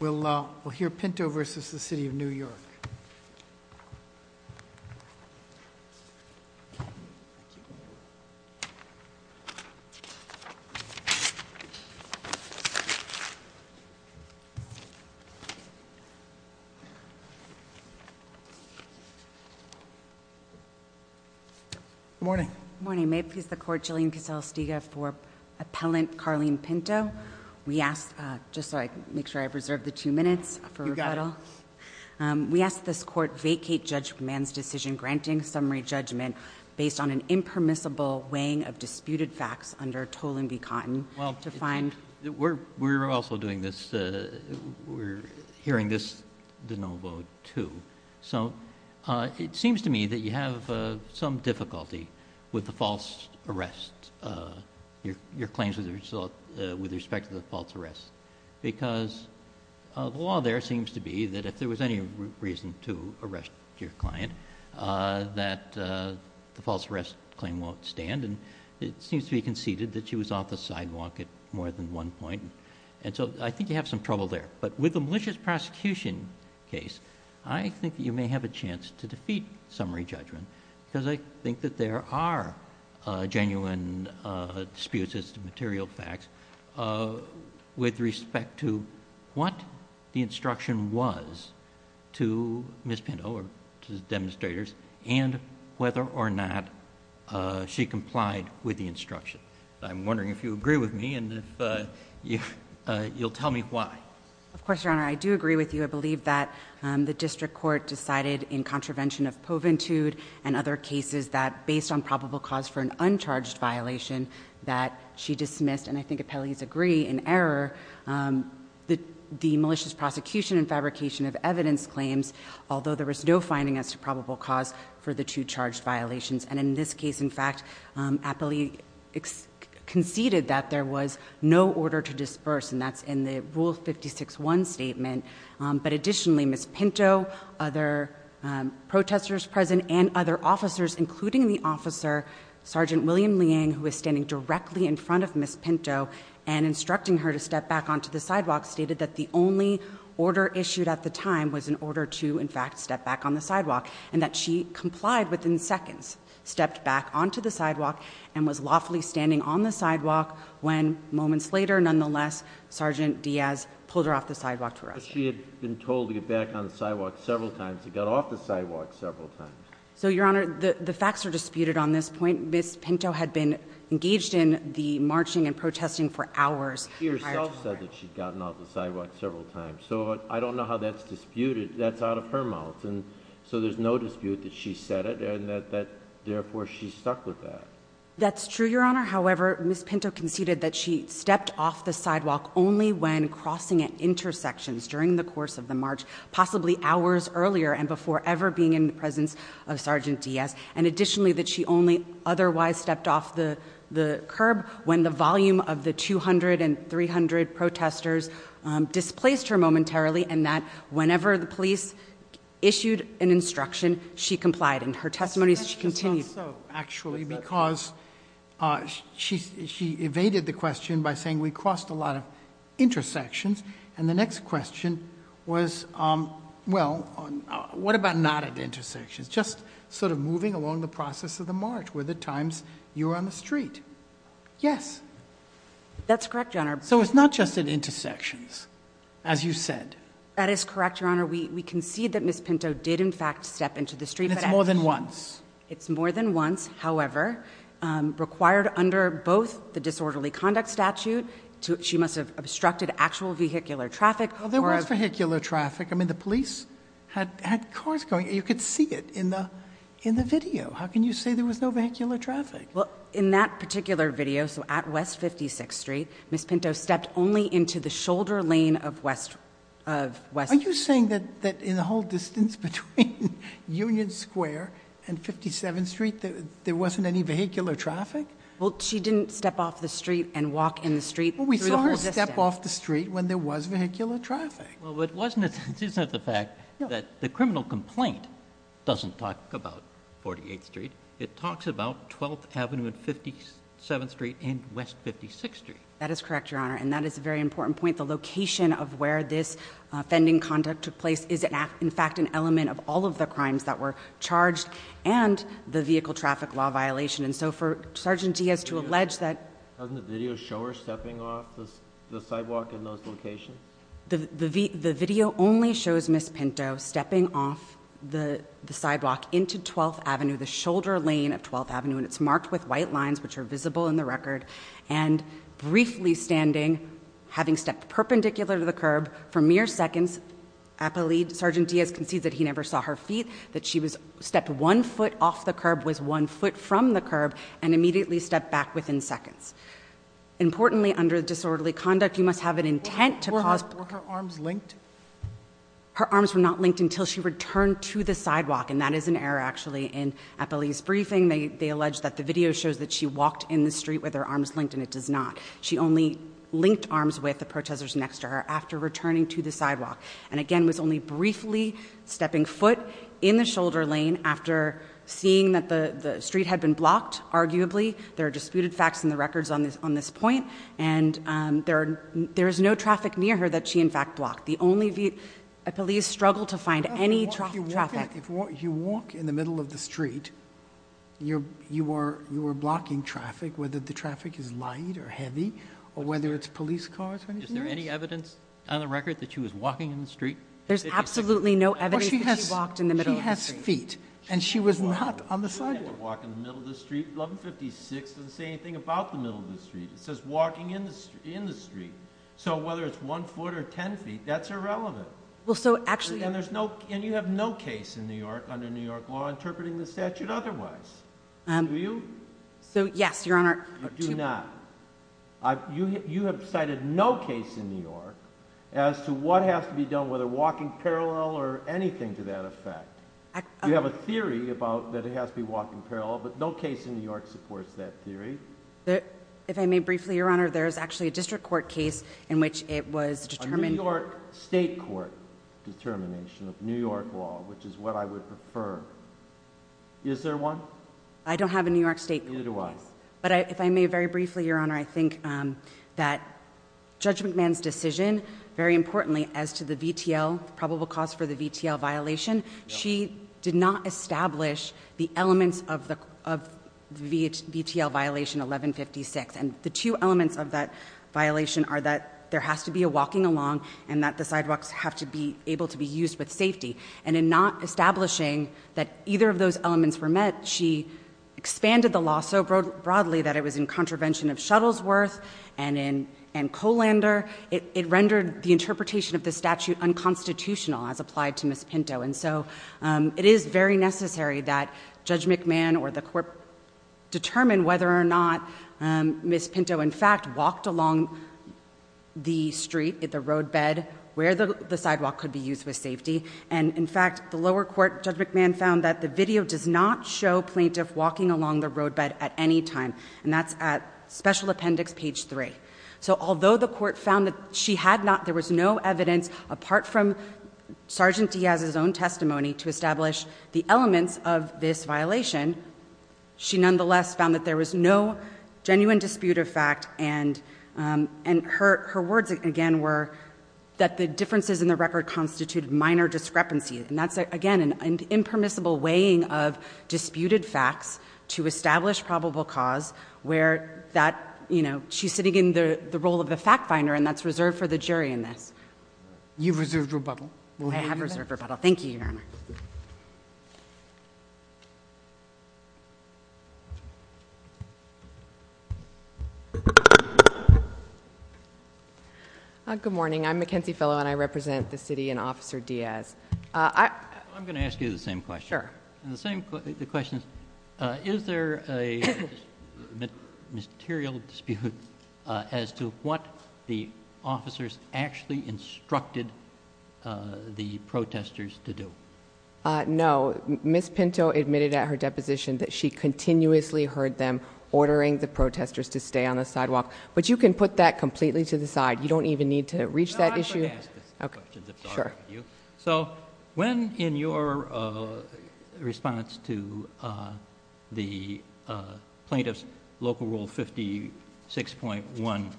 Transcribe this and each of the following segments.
We'll hear Pinto v. City of New York. Good morning. Good morning. May it please the Court, Jillian Castell-Stega for Appellant Carleen Pinto. We ask, just so I can make sure I've reserved the two minutes for rebuttal. You got it. We ask this Court vacate Judge Mann's decision granting summary judgment based on an impermissible weighing of disputed facts under Tolan v. Cotton. Well, we're also doing this, we're hearing this de novo too. So, it seems to me that you have some difficulty with the false arrest. Your claims with respect to the false arrest. Because the law there seems to be that if there was any reason to arrest your client, that the false arrest claim won't stand. And it seems to be conceded that she was off the sidewalk at more than one point. And so I think you have some trouble there. But with the malicious prosecution case, I think you may have a chance to defeat summary judgment. Because I think that there are genuine disputes as to material facts with respect to what the instruction was to Ms. Pinto or to the demonstrators and whether or not she complied with the instruction. I'm wondering if you agree with me and if you'll tell me why. Of course, Your Honor, I do agree with you. I believe that the district court decided in contravention of poventude and other cases that based on probable cause for an uncharged violation that she dismissed, and I think appellees agree in error, the malicious prosecution and fabrication of evidence claims, although there was no finding as to probable cause for the two charged violations. And in this case, in fact, appellee conceded that there was no order to disperse. And that's in the Rule 56-1 statement. But additionally, Ms. Pinto, other protesters present, and other officers, including the officer, Sergeant William Liang, who is standing directly in front of Ms. Pinto and instructing her to step back onto the sidewalk, stated that the only order issued at the time was an order to, in fact, step back on the sidewalk and that she complied within seconds, stepped back onto the sidewalk, and was lawfully standing on the sidewalk when moments later, nonetheless, Sergeant Diaz pulled her off the sidewalk to arrest her. She had been told to get back on the sidewalk several times. She got off the sidewalk several times. So, Your Honor, the facts are disputed on this point. Ms. Pinto had been engaged in the marching and protesting for hours prior to her arrest. She herself said that she'd gotten off the sidewalk several times. So I don't know how that's disputed. That's out of her mouth, and so there's no dispute that she said it and that therefore she stuck with that. That's true, Your Honor. However, Ms. Pinto conceded that she stepped off the sidewalk only when crossing at intersections during the course of the march, possibly hours earlier and before ever being in the presence of Sergeant Diaz, and additionally that she only otherwise stepped off the curb when the volume of the 200 and 300 protesters displaced her momentarily and that whenever the police issued an instruction, she complied, and her testimony continues. I think so, actually, because she evaded the question by saying we crossed a lot of intersections, and the next question was, well, what about not at intersections, just sort of moving along the process of the march, were there times you were on the street? Yes. That's correct, Your Honor. So it's not just at intersections, as you said. That is correct, Your Honor. We concede that Ms. Pinto did, in fact, step into the street. And it's more than once. It's more than once. However, required under both the disorderly conduct statute, she must have obstructed actual vehicular traffic. There was vehicular traffic. I mean, the police had cars going. You could see it in the video. How can you say there was no vehicular traffic? Well, in that particular video, so at West 56th Street, Ms. Pinto stepped only into the shoulder lane of West 56th Street. Are you saying that in the whole distance between Union Square and 57th Street, there wasn't any vehicular traffic? Well, she didn't step off the street and walk in the street. We saw her step off the street when there was vehicular traffic. Well, it wasn't the fact that the criminal complaint doesn't talk about 48th Street. It talks about 12th Avenue and 57th Street and West 56th Street. That is correct, Your Honor, and that is a very important point. The location of where this offending conduct took place is, in fact, an element of all of the crimes that were charged and the vehicle traffic law violation. And so for Sergeant Diaz to allege that— Doesn't the video show her stepping off the sidewalk in those locations? The video only shows Ms. Pinto stepping off the sidewalk into 12th Avenue, the shoulder lane of 12th Avenue, and it's marked with white lines, which are visible in the record, and briefly standing, having stepped perpendicular to the curb for mere seconds. Appellee Sergeant Diaz concedes that he never saw her feet, that she stepped one foot off the curb, was one foot from the curb, and immediately stepped back within seconds. Importantly, under disorderly conduct, you must have an intent to cause— Were her arms linked? Her arms were not linked until she returned to the sidewalk, and that is an error, actually, in Appellee's briefing. They allege that the video shows that she walked in the street with her arms linked, and it does not. She only linked arms with the protesters next to her after returning to the sidewalk, and again was only briefly stepping foot in the shoulder lane after seeing that the street had been blocked, arguably. There are disputed facts in the records on this point, and there is no traffic near her that she, in fact, blocked. The only—Appellee struggled to find any traffic. If you walk in the middle of the street, you are blocking traffic, whether the traffic is light or heavy or whether it's police cars or anything else. Is there any evidence on the record that she was walking in the street? There's absolutely no evidence that she walked in the middle of the street. She has feet, and she was not on the sidewalk. She didn't have to walk in the middle of the street. 1156 doesn't say anything about the middle of the street. It says walking in the street. So whether it's one foot or 10 feet, that's irrelevant. Well, so actually— And you have no case in New York under New York law interpreting the statute otherwise. Do you? So, yes, Your Honor. You do not. You have cited no case in New York as to what has to be done, whether walking parallel or anything to that effect. You have a theory about that it has to be walking parallel, but no case in New York supports that theory. If I may briefly, Your Honor, there is actually a district court case in which it was determined— a New York state court determination of New York law, which is what I would prefer. Is there one? I don't have a New York state court case. Neither do I. But if I may very briefly, Your Honor, I think that Judge McMahon's decision, very importantly as to the VTL, probable cause for the VTL violation, she did not establish the elements of the VTL violation 1156. And the two elements of that violation are that there has to be a walking along and that the sidewalks have to be able to be used with safety. And in not establishing that either of those elements were met, she expanded the law so broadly that it was in contravention of Shuttlesworth and Colander. It rendered the interpretation of the statute unconstitutional, as applied to Ms. Pinto. And so it is very necessary that Judge McMahon or the court determine whether or not Ms. Pinto, in fact, had walked along the street, the roadbed, where the sidewalk could be used with safety. And, in fact, the lower court, Judge McMahon, found that the video does not show plaintiff walking along the roadbed at any time. And that's at special appendix page three. So although the court found that she had not, there was no evidence apart from Sergeant Diaz's own testimony to establish the elements of this violation, she nonetheless found that there was no genuine dispute of fact. And her words, again, were that the differences in the record constituted minor discrepancy. And that's, again, an impermissible weighing of disputed facts to establish probable cause where that, you know, she's sitting in the role of the fact finder and that's reserved for the jury in this. You've reserved rebuttal. I have reserved rebuttal. Thank you, Your Honor. Good morning. I'm Mackenzie fellow and I represent the city and officer Diaz. I'm going to ask you the same question. Sure. The same. The question is, is there a. Material dispute. As to what the officers actually instructed. The protesters to do. No. Ms. Pinto admitted at her deposition. That she continuously heard them ordering the protesters to stay on the sidewalk, but you can put that completely to the side. You don't even need to reach that issue. Okay. Sure. So when in your. Response to. The plaintiff's local rule. 56.1.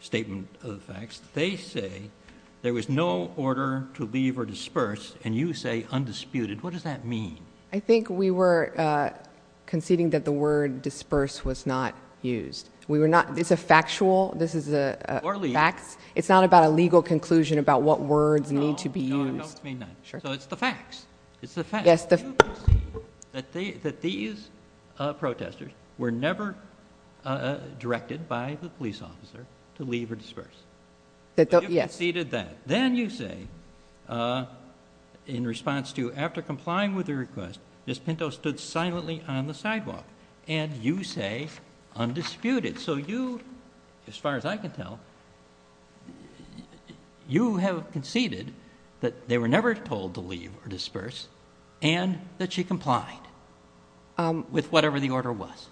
Statement of facts. They say. There was no order to leave or disperse. And you say undisputed. What does that mean? I think we were. Conceding that the word disperse was not used. We were not. It's a factual. This is a. Facts. It's not about a legal conclusion about what words need to be used. Sure. So it's the facts. It's the fact. Yes. That these. Protesters were never. Directed by the police officer. To leave or disperse. Yes. He did that. Then you say. In response to. After complying with the request. Ms. Pinto stood silently on the sidewalk. And you say. Undisputed. So you. As far as I can tell. You have conceded. That they were never told to leave or disperse. And that she complied. With whatever the order was.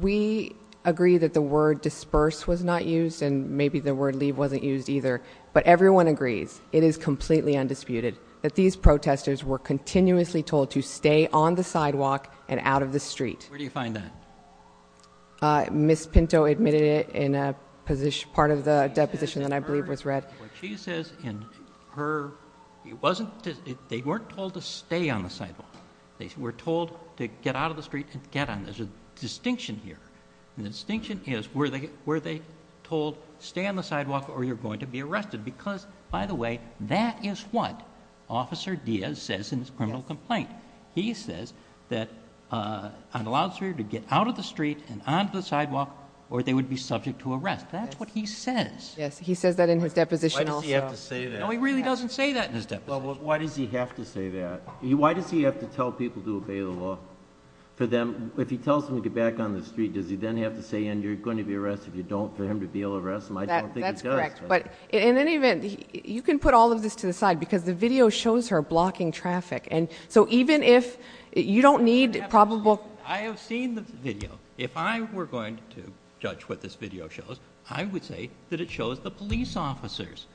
We agree that the word disperse was not used. And maybe the word leave wasn't used either. But everyone agrees. It is completely undisputed. That these protesters were continuously told to stay on the sidewalk. And out of the street. Where do you find that? Ms. Pinto admitted it in a position. Part of the deposition that I believe was read. She says in her. It wasn't. They weren't told to stay on the sidewalk. They were told to get out of the street and get on. There's a distinction here. The distinction is. Were they told. Stay on the sidewalk or you're going to be arrested. Because by the way. That is what. Officer Diaz says in his criminal complaint. He says. That. I'm allowed to get out of the street. And onto the sidewalk. Or they would be subject to arrest. That's what he says. Yes. He says that in his deposition. You have to say that. He really doesn't say that. Why does he have to say that? Why does he have to tell people to obey the law? For them. If he tells him to get back on the street. Does he then have to say. And you're going to be arrested. If you don't. For him to be able to arrest him. I don't think he does. That's correct. But in any event. You can put all of this to the side. Because the video shows her blocking traffic. And so even if. You don't need probable. I have seen the video. If I were going to judge what this video shows. I would say that it shows the police officers.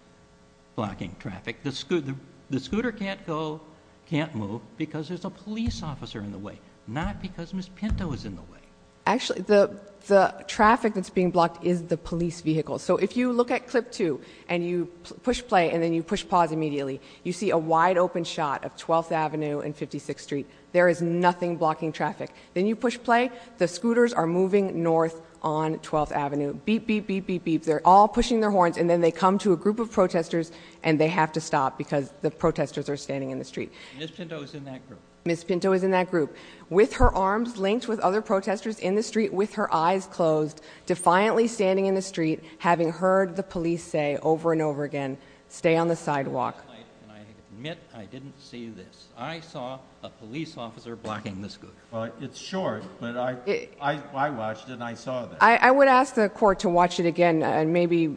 Blocking traffic. The scooter. The scooter can't go. Can't move. Because there's a police officer in the way. Not because Miss Pinto is in the way. Actually. The traffic that's being blocked. Is the police vehicle. So if you look at clip 2. And you push play. And then you push pause immediately. You see a wide open shot of 12th Avenue and 56th Street. There is nothing blocking traffic. Then you push play. The scooters are moving north on 12th Avenue. Beep beep beep beep beep. They're all pushing their horns. And then they come to a group of protesters. And they have to stop. Because the protesters are standing in the street. Miss Pinto is in that group. Miss Pinto is in that group. With her arms linked with other protesters in the street. With her eyes closed. Defiantly standing in the street. Having heard the police say over and over again. Stay on the sidewalk. I admit I didn't see this. I saw a police officer blocking the scooter. It's short. But I watched it. And I saw that. I would ask the court to watch it again. And maybe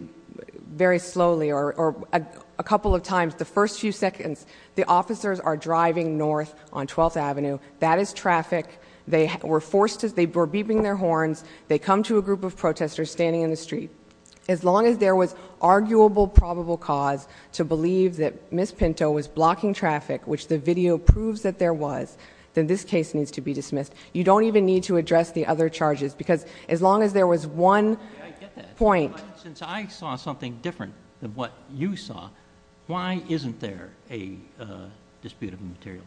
very slowly. Or a couple of times. The first few seconds. The officers are driving north on 12th Avenue. That is traffic. They were forced. They were beeping their horns. They come to a group of protesters standing in the street. As long as there was arguable probable cause to believe that Miss Pinto was blocking traffic. Which the video proves that there was. Then this case needs to be dismissed. You don't even need to address the other charges. Because as long as there was one point. Since I saw something different than what you saw. Why isn't there a dispute of material?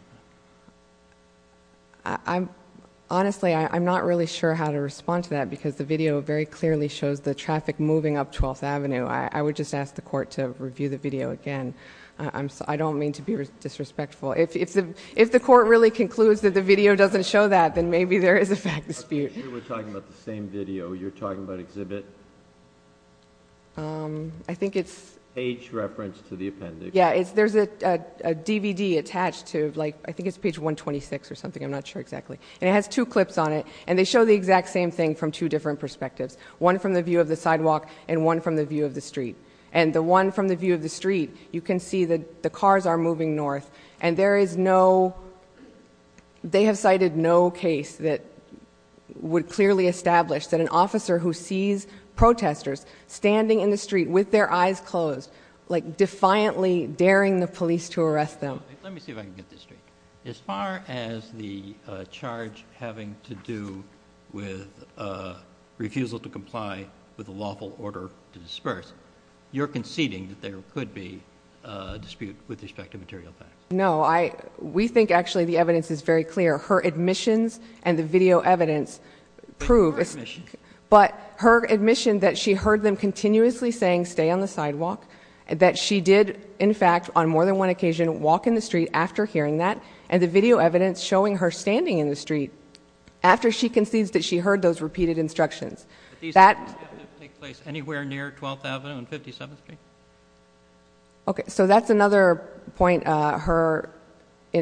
Honestly, I'm not really sure how to respond to that. Because the video very clearly shows the traffic moving up 12th Avenue. I would just ask the court to review the video again. I don't mean to be disrespectful. If the court really concludes that the video doesn't show that. Then maybe there is a fact dispute. We're talking about the same video. You're talking about exhibit. I think it's. Page reference to the appendix. There's a DVD attached to. I think it's page 126 or something. I'm not sure exactly. It has two clips on it. They show the exact same thing from two different perspectives. One from the view of the sidewalk. And one from the view of the street. The one from the view of the street. You can see that the cars are moving north. And there is no. They have cited no case that. Would clearly establish that an officer who sees protesters. Standing in the street with their eyes closed. Like defiantly daring the police to arrest them. Let me see if I can get this straight. As far as the charge having to do with. Refusal to comply with a lawful order to disperse. You're conceding that there could be a dispute with respect to material facts. No, I. We think actually the evidence is very clear. Her admissions and the video evidence. Prove. But her admission that she heard them continuously saying stay on the sidewalk. That she did in fact on more than one occasion walk in the street after hearing that. And the video evidence showing her standing in the street. After she concedes that she heard those repeated instructions. Anywhere near 12th Avenue and 57th Street. Okay. So that's another point. Her.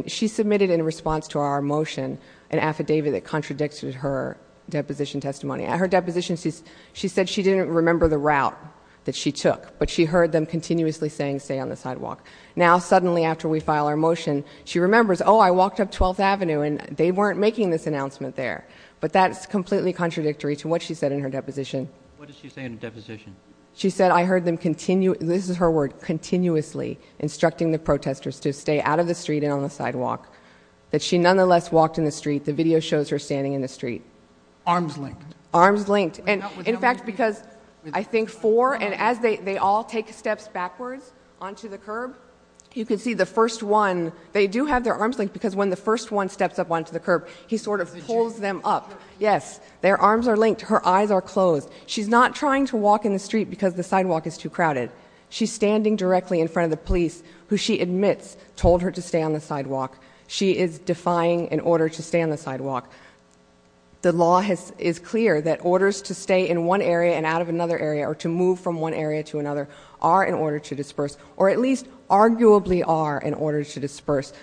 She submitted in response to our motion. An affidavit that contradicted her. Deposition testimony at her deposition. She said she didn't remember the route. That she took. But she heard them continuously saying stay on the sidewalk. Now suddenly after we file our motion. She remembers. Oh, I walked up 12th Avenue. And they weren't making this announcement there. But that's completely contradictory to what she said in her deposition. What did she say in her deposition? She said I heard them continue. This is her word. Continuously instructing the protesters to stay out of the street and on the sidewalk. That she nonetheless walked in the street. The video shows her standing in the street. Arms linked. Arms linked. And in fact because I think four. And as they all take steps backwards onto the curb. You can see the first one. They do have their arms linked. Because when the first one steps up onto the curb. He sort of pulls them up. Yes. Their arms are linked. Her eyes are closed. She's not trying to walk in the street because the sidewalk is too crowded. She's standing directly in front of the police. Who she admits told her to stay on the sidewalk. She is defying an order to stay on the sidewalk. The law is clear that orders to stay in one area and out of another area. Or to move from one area to another. Are in order to disperse. Or at least arguably are in order to disperse.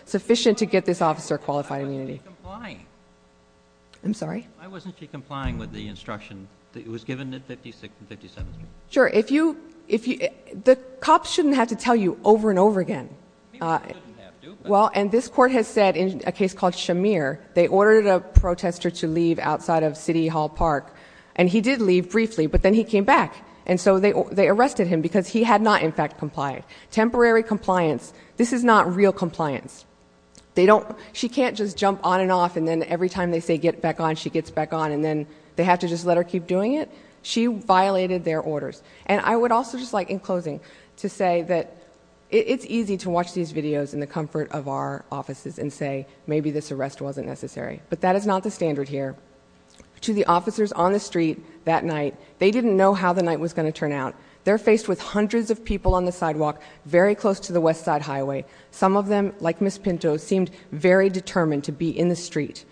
I'm sorry? Why wasn't she complying with the instruction that was given at 57th Street? Sure. The cops shouldn't have to tell you over and over again. People shouldn't have to. And this court has said in a case called Shamir. They ordered a protester to leave outside of City Hall Park. And he did leave briefly. But then he came back. And so they arrested him. Because he had not in fact complied. Temporary compliance. This is not real compliance. They don't. She can't just jump on and off. And then every time they say get back on. She gets back on. And then they have to just let her keep doing it. She violated their orders. And I would also just like in closing. To say that it's easy to watch these videos in the comfort of our offices. And say maybe this arrest wasn't necessary. But that is not the standard here. To the officers on the street that night. They didn't know how the night was going to turn out. They're faced with hundreds of people on the sidewalk. Very close to the west side highway. Some of them, like Ms. Pinto, seemed very determined to be in the street.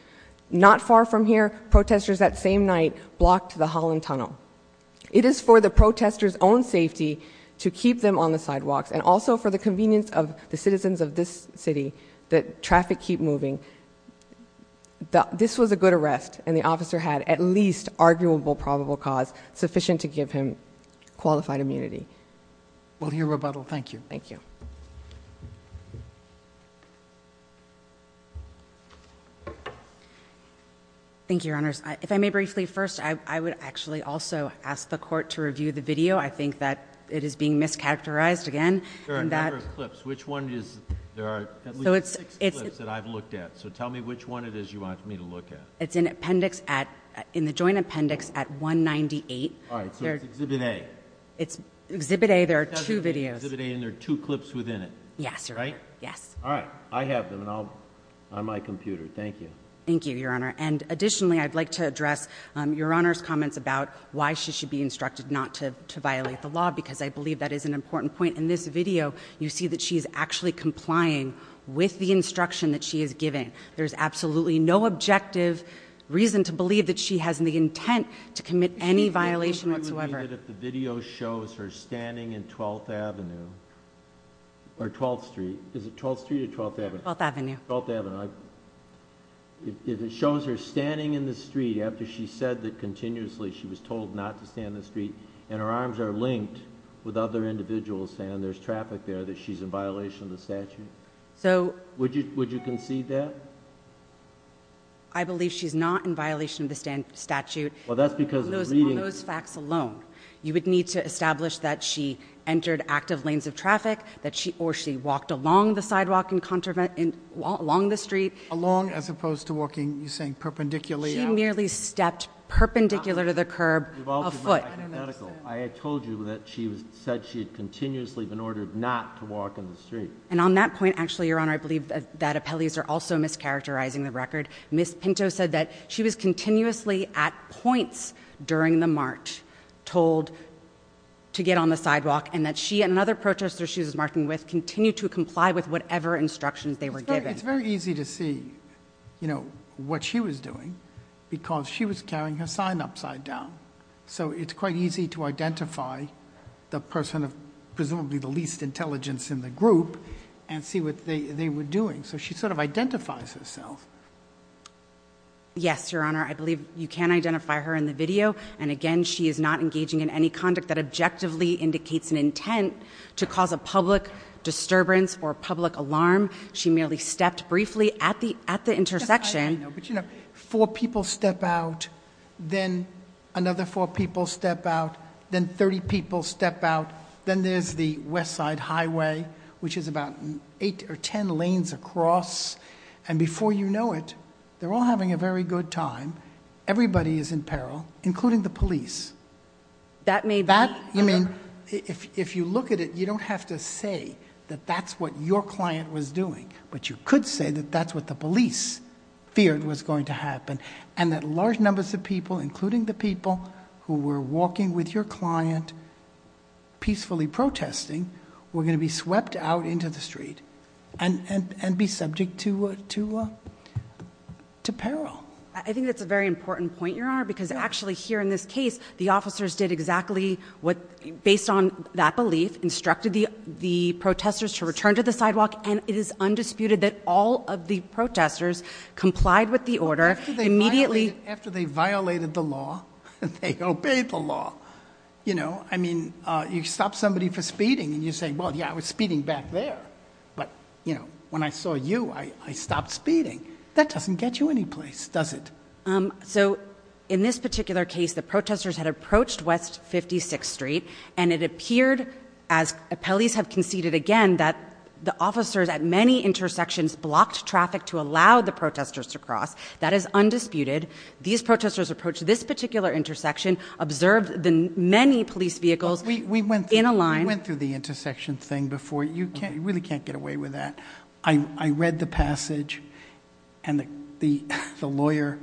Not far from here, protesters that same night blocked the Holland Tunnel. It is for the protesters' own safety to keep them on the sidewalks. And also for the convenience of the citizens of this city. That traffic keep moving. This was a good arrest. And the officer had at least arguable probable cause. Sufficient to give him qualified immunity. We'll hear rebuttal. Thank you. Thank you. Thank you, Your Honors. If I may briefly first. I would actually also ask the court to review the video. I think that it is being mischaracterized again. There are a number of clips. Which one is. There are at least six clips that I've looked at. So tell me which one it is you want me to look at. It's in appendix at. In the joint appendix at 198. All right. So it's Exhibit A. It's Exhibit A. There are two videos. Exhibit A. And there are two clips within it. Yes, Your Honor. Right? Yes. All right. I have them. And I'll. On my computer. Thank you. Thank you, Your Honor. And additionally, I'd like to address Your Honor's comments about. Why she should be instructed not to violate the law. Because I believe that is an important point in this video. You see that she's actually complying with the instruction that she is giving. There's absolutely no objective reason to believe that she has the intent. To commit any violation whatsoever. The question would be that if the video shows her standing in 12th Avenue. Or 12th Street. Is it 12th Street or 12th Avenue? 12th Avenue. 12th Avenue. If it shows her standing in the street after she said that continuously she was told not to stand in the street. And her arms are linked with other individuals saying there's traffic there. That she's in violation of the statute. So. Would you concede that? I believe she's not in violation of the statute. Well, that's because of the reading. On those facts alone. You would need to establish that she entered active lanes of traffic. Or she walked along the sidewalk. Along the street. Along as opposed to walking. You're saying perpendicularly. She merely stepped perpendicular to the curb. A foot. I told you that she said she had continuously been ordered not to walk in the street. And on that point, actually, Your Honor. I believe that appellees are also mischaracterizing the record. That Ms. Pinto said that she was continuously at points during the march. Told to get on the sidewalk. And that she and another protester she was marching with continued to comply with whatever instructions they were given. It's very easy to see, you know, what she was doing. Because she was carrying her sign upside down. So it's quite easy to identify the person of presumably the least intelligence in the group. And see what they were doing. So she sort of identifies herself. Yes, Your Honor. I believe you can identify her in the video. And, again, she is not engaging in any conduct that objectively indicates an intent to cause a public disturbance or public alarm. She merely stepped briefly at the intersection. But, you know, four people step out. Then another four people step out. Then 30 people step out. Then there's the west side highway. Which is about eight or ten lanes across. And before you know it, they're all having a very good time. Everybody is in peril. Including the police. That may be. I mean, if you look at it, you don't have to say that that's what your client was doing. And that large numbers of people, including the people who were walking with your client, peacefully protesting, were going to be swept out into the street. And be subject to peril. I think that's a very important point, Your Honor. Because actually here in this case, the officers did exactly what, based on that belief, instructed the protesters to return to the sidewalk. And it is undisputed that all of the protesters complied with the order. Immediately. After they violated the law. They obeyed the law. You know? I mean, you stop somebody for speeding. And you say, well, yeah, I was speeding back there. But, you know, when I saw you, I stopped speeding. That doesn't get you any place, does it? So in this particular case, the protesters had approached West 56th Street. And it appeared, as appellees have conceded again, that the officers at many intersections blocked traffic to allow the protesters to cross. That is undisputed. These protesters approached this particular intersection, observed the many police vehicles in a line. We went through the intersection thing before. You really can't get away with that. I read the passage. And the lawyer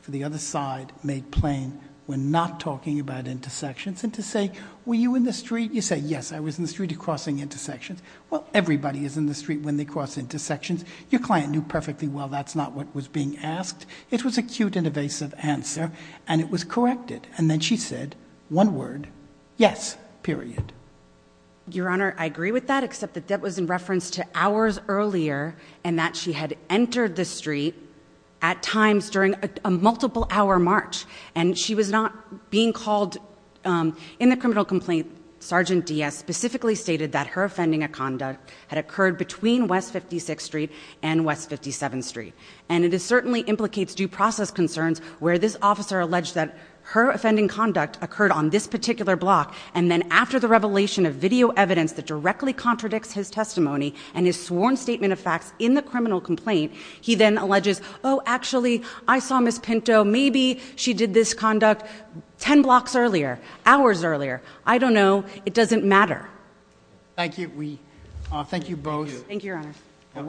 for the other side made plain, we're not talking about intersections. And to say, were you in the street? You say, yes, I was in the street crossing intersections. Well, everybody is in the street when they cross intersections. Your client knew perfectly well that's not what was being asked. It was a cute and evasive answer. And it was corrected. And then she said, one word, yes, period. Your Honor, I agree with that, except that that was in reference to hours earlier. And that she had entered the street at times during a multiple-hour march. And she was not being called in the criminal complaint. Sergeant Diaz specifically stated that her offending of conduct had occurred between West 56th Street and West 57th Street. And it certainly implicates due process concerns where this officer alleged that her offending conduct occurred on this particular block. And then after the revelation of video evidence that directly contradicts his testimony and his sworn statement of facts in the criminal complaint, he then alleges, oh, actually, I saw Ms. Pinto. Maybe she did this conduct ten blocks earlier, hours earlier. I don't know. It doesn't matter. We thank you both. Thank you, Your Honor.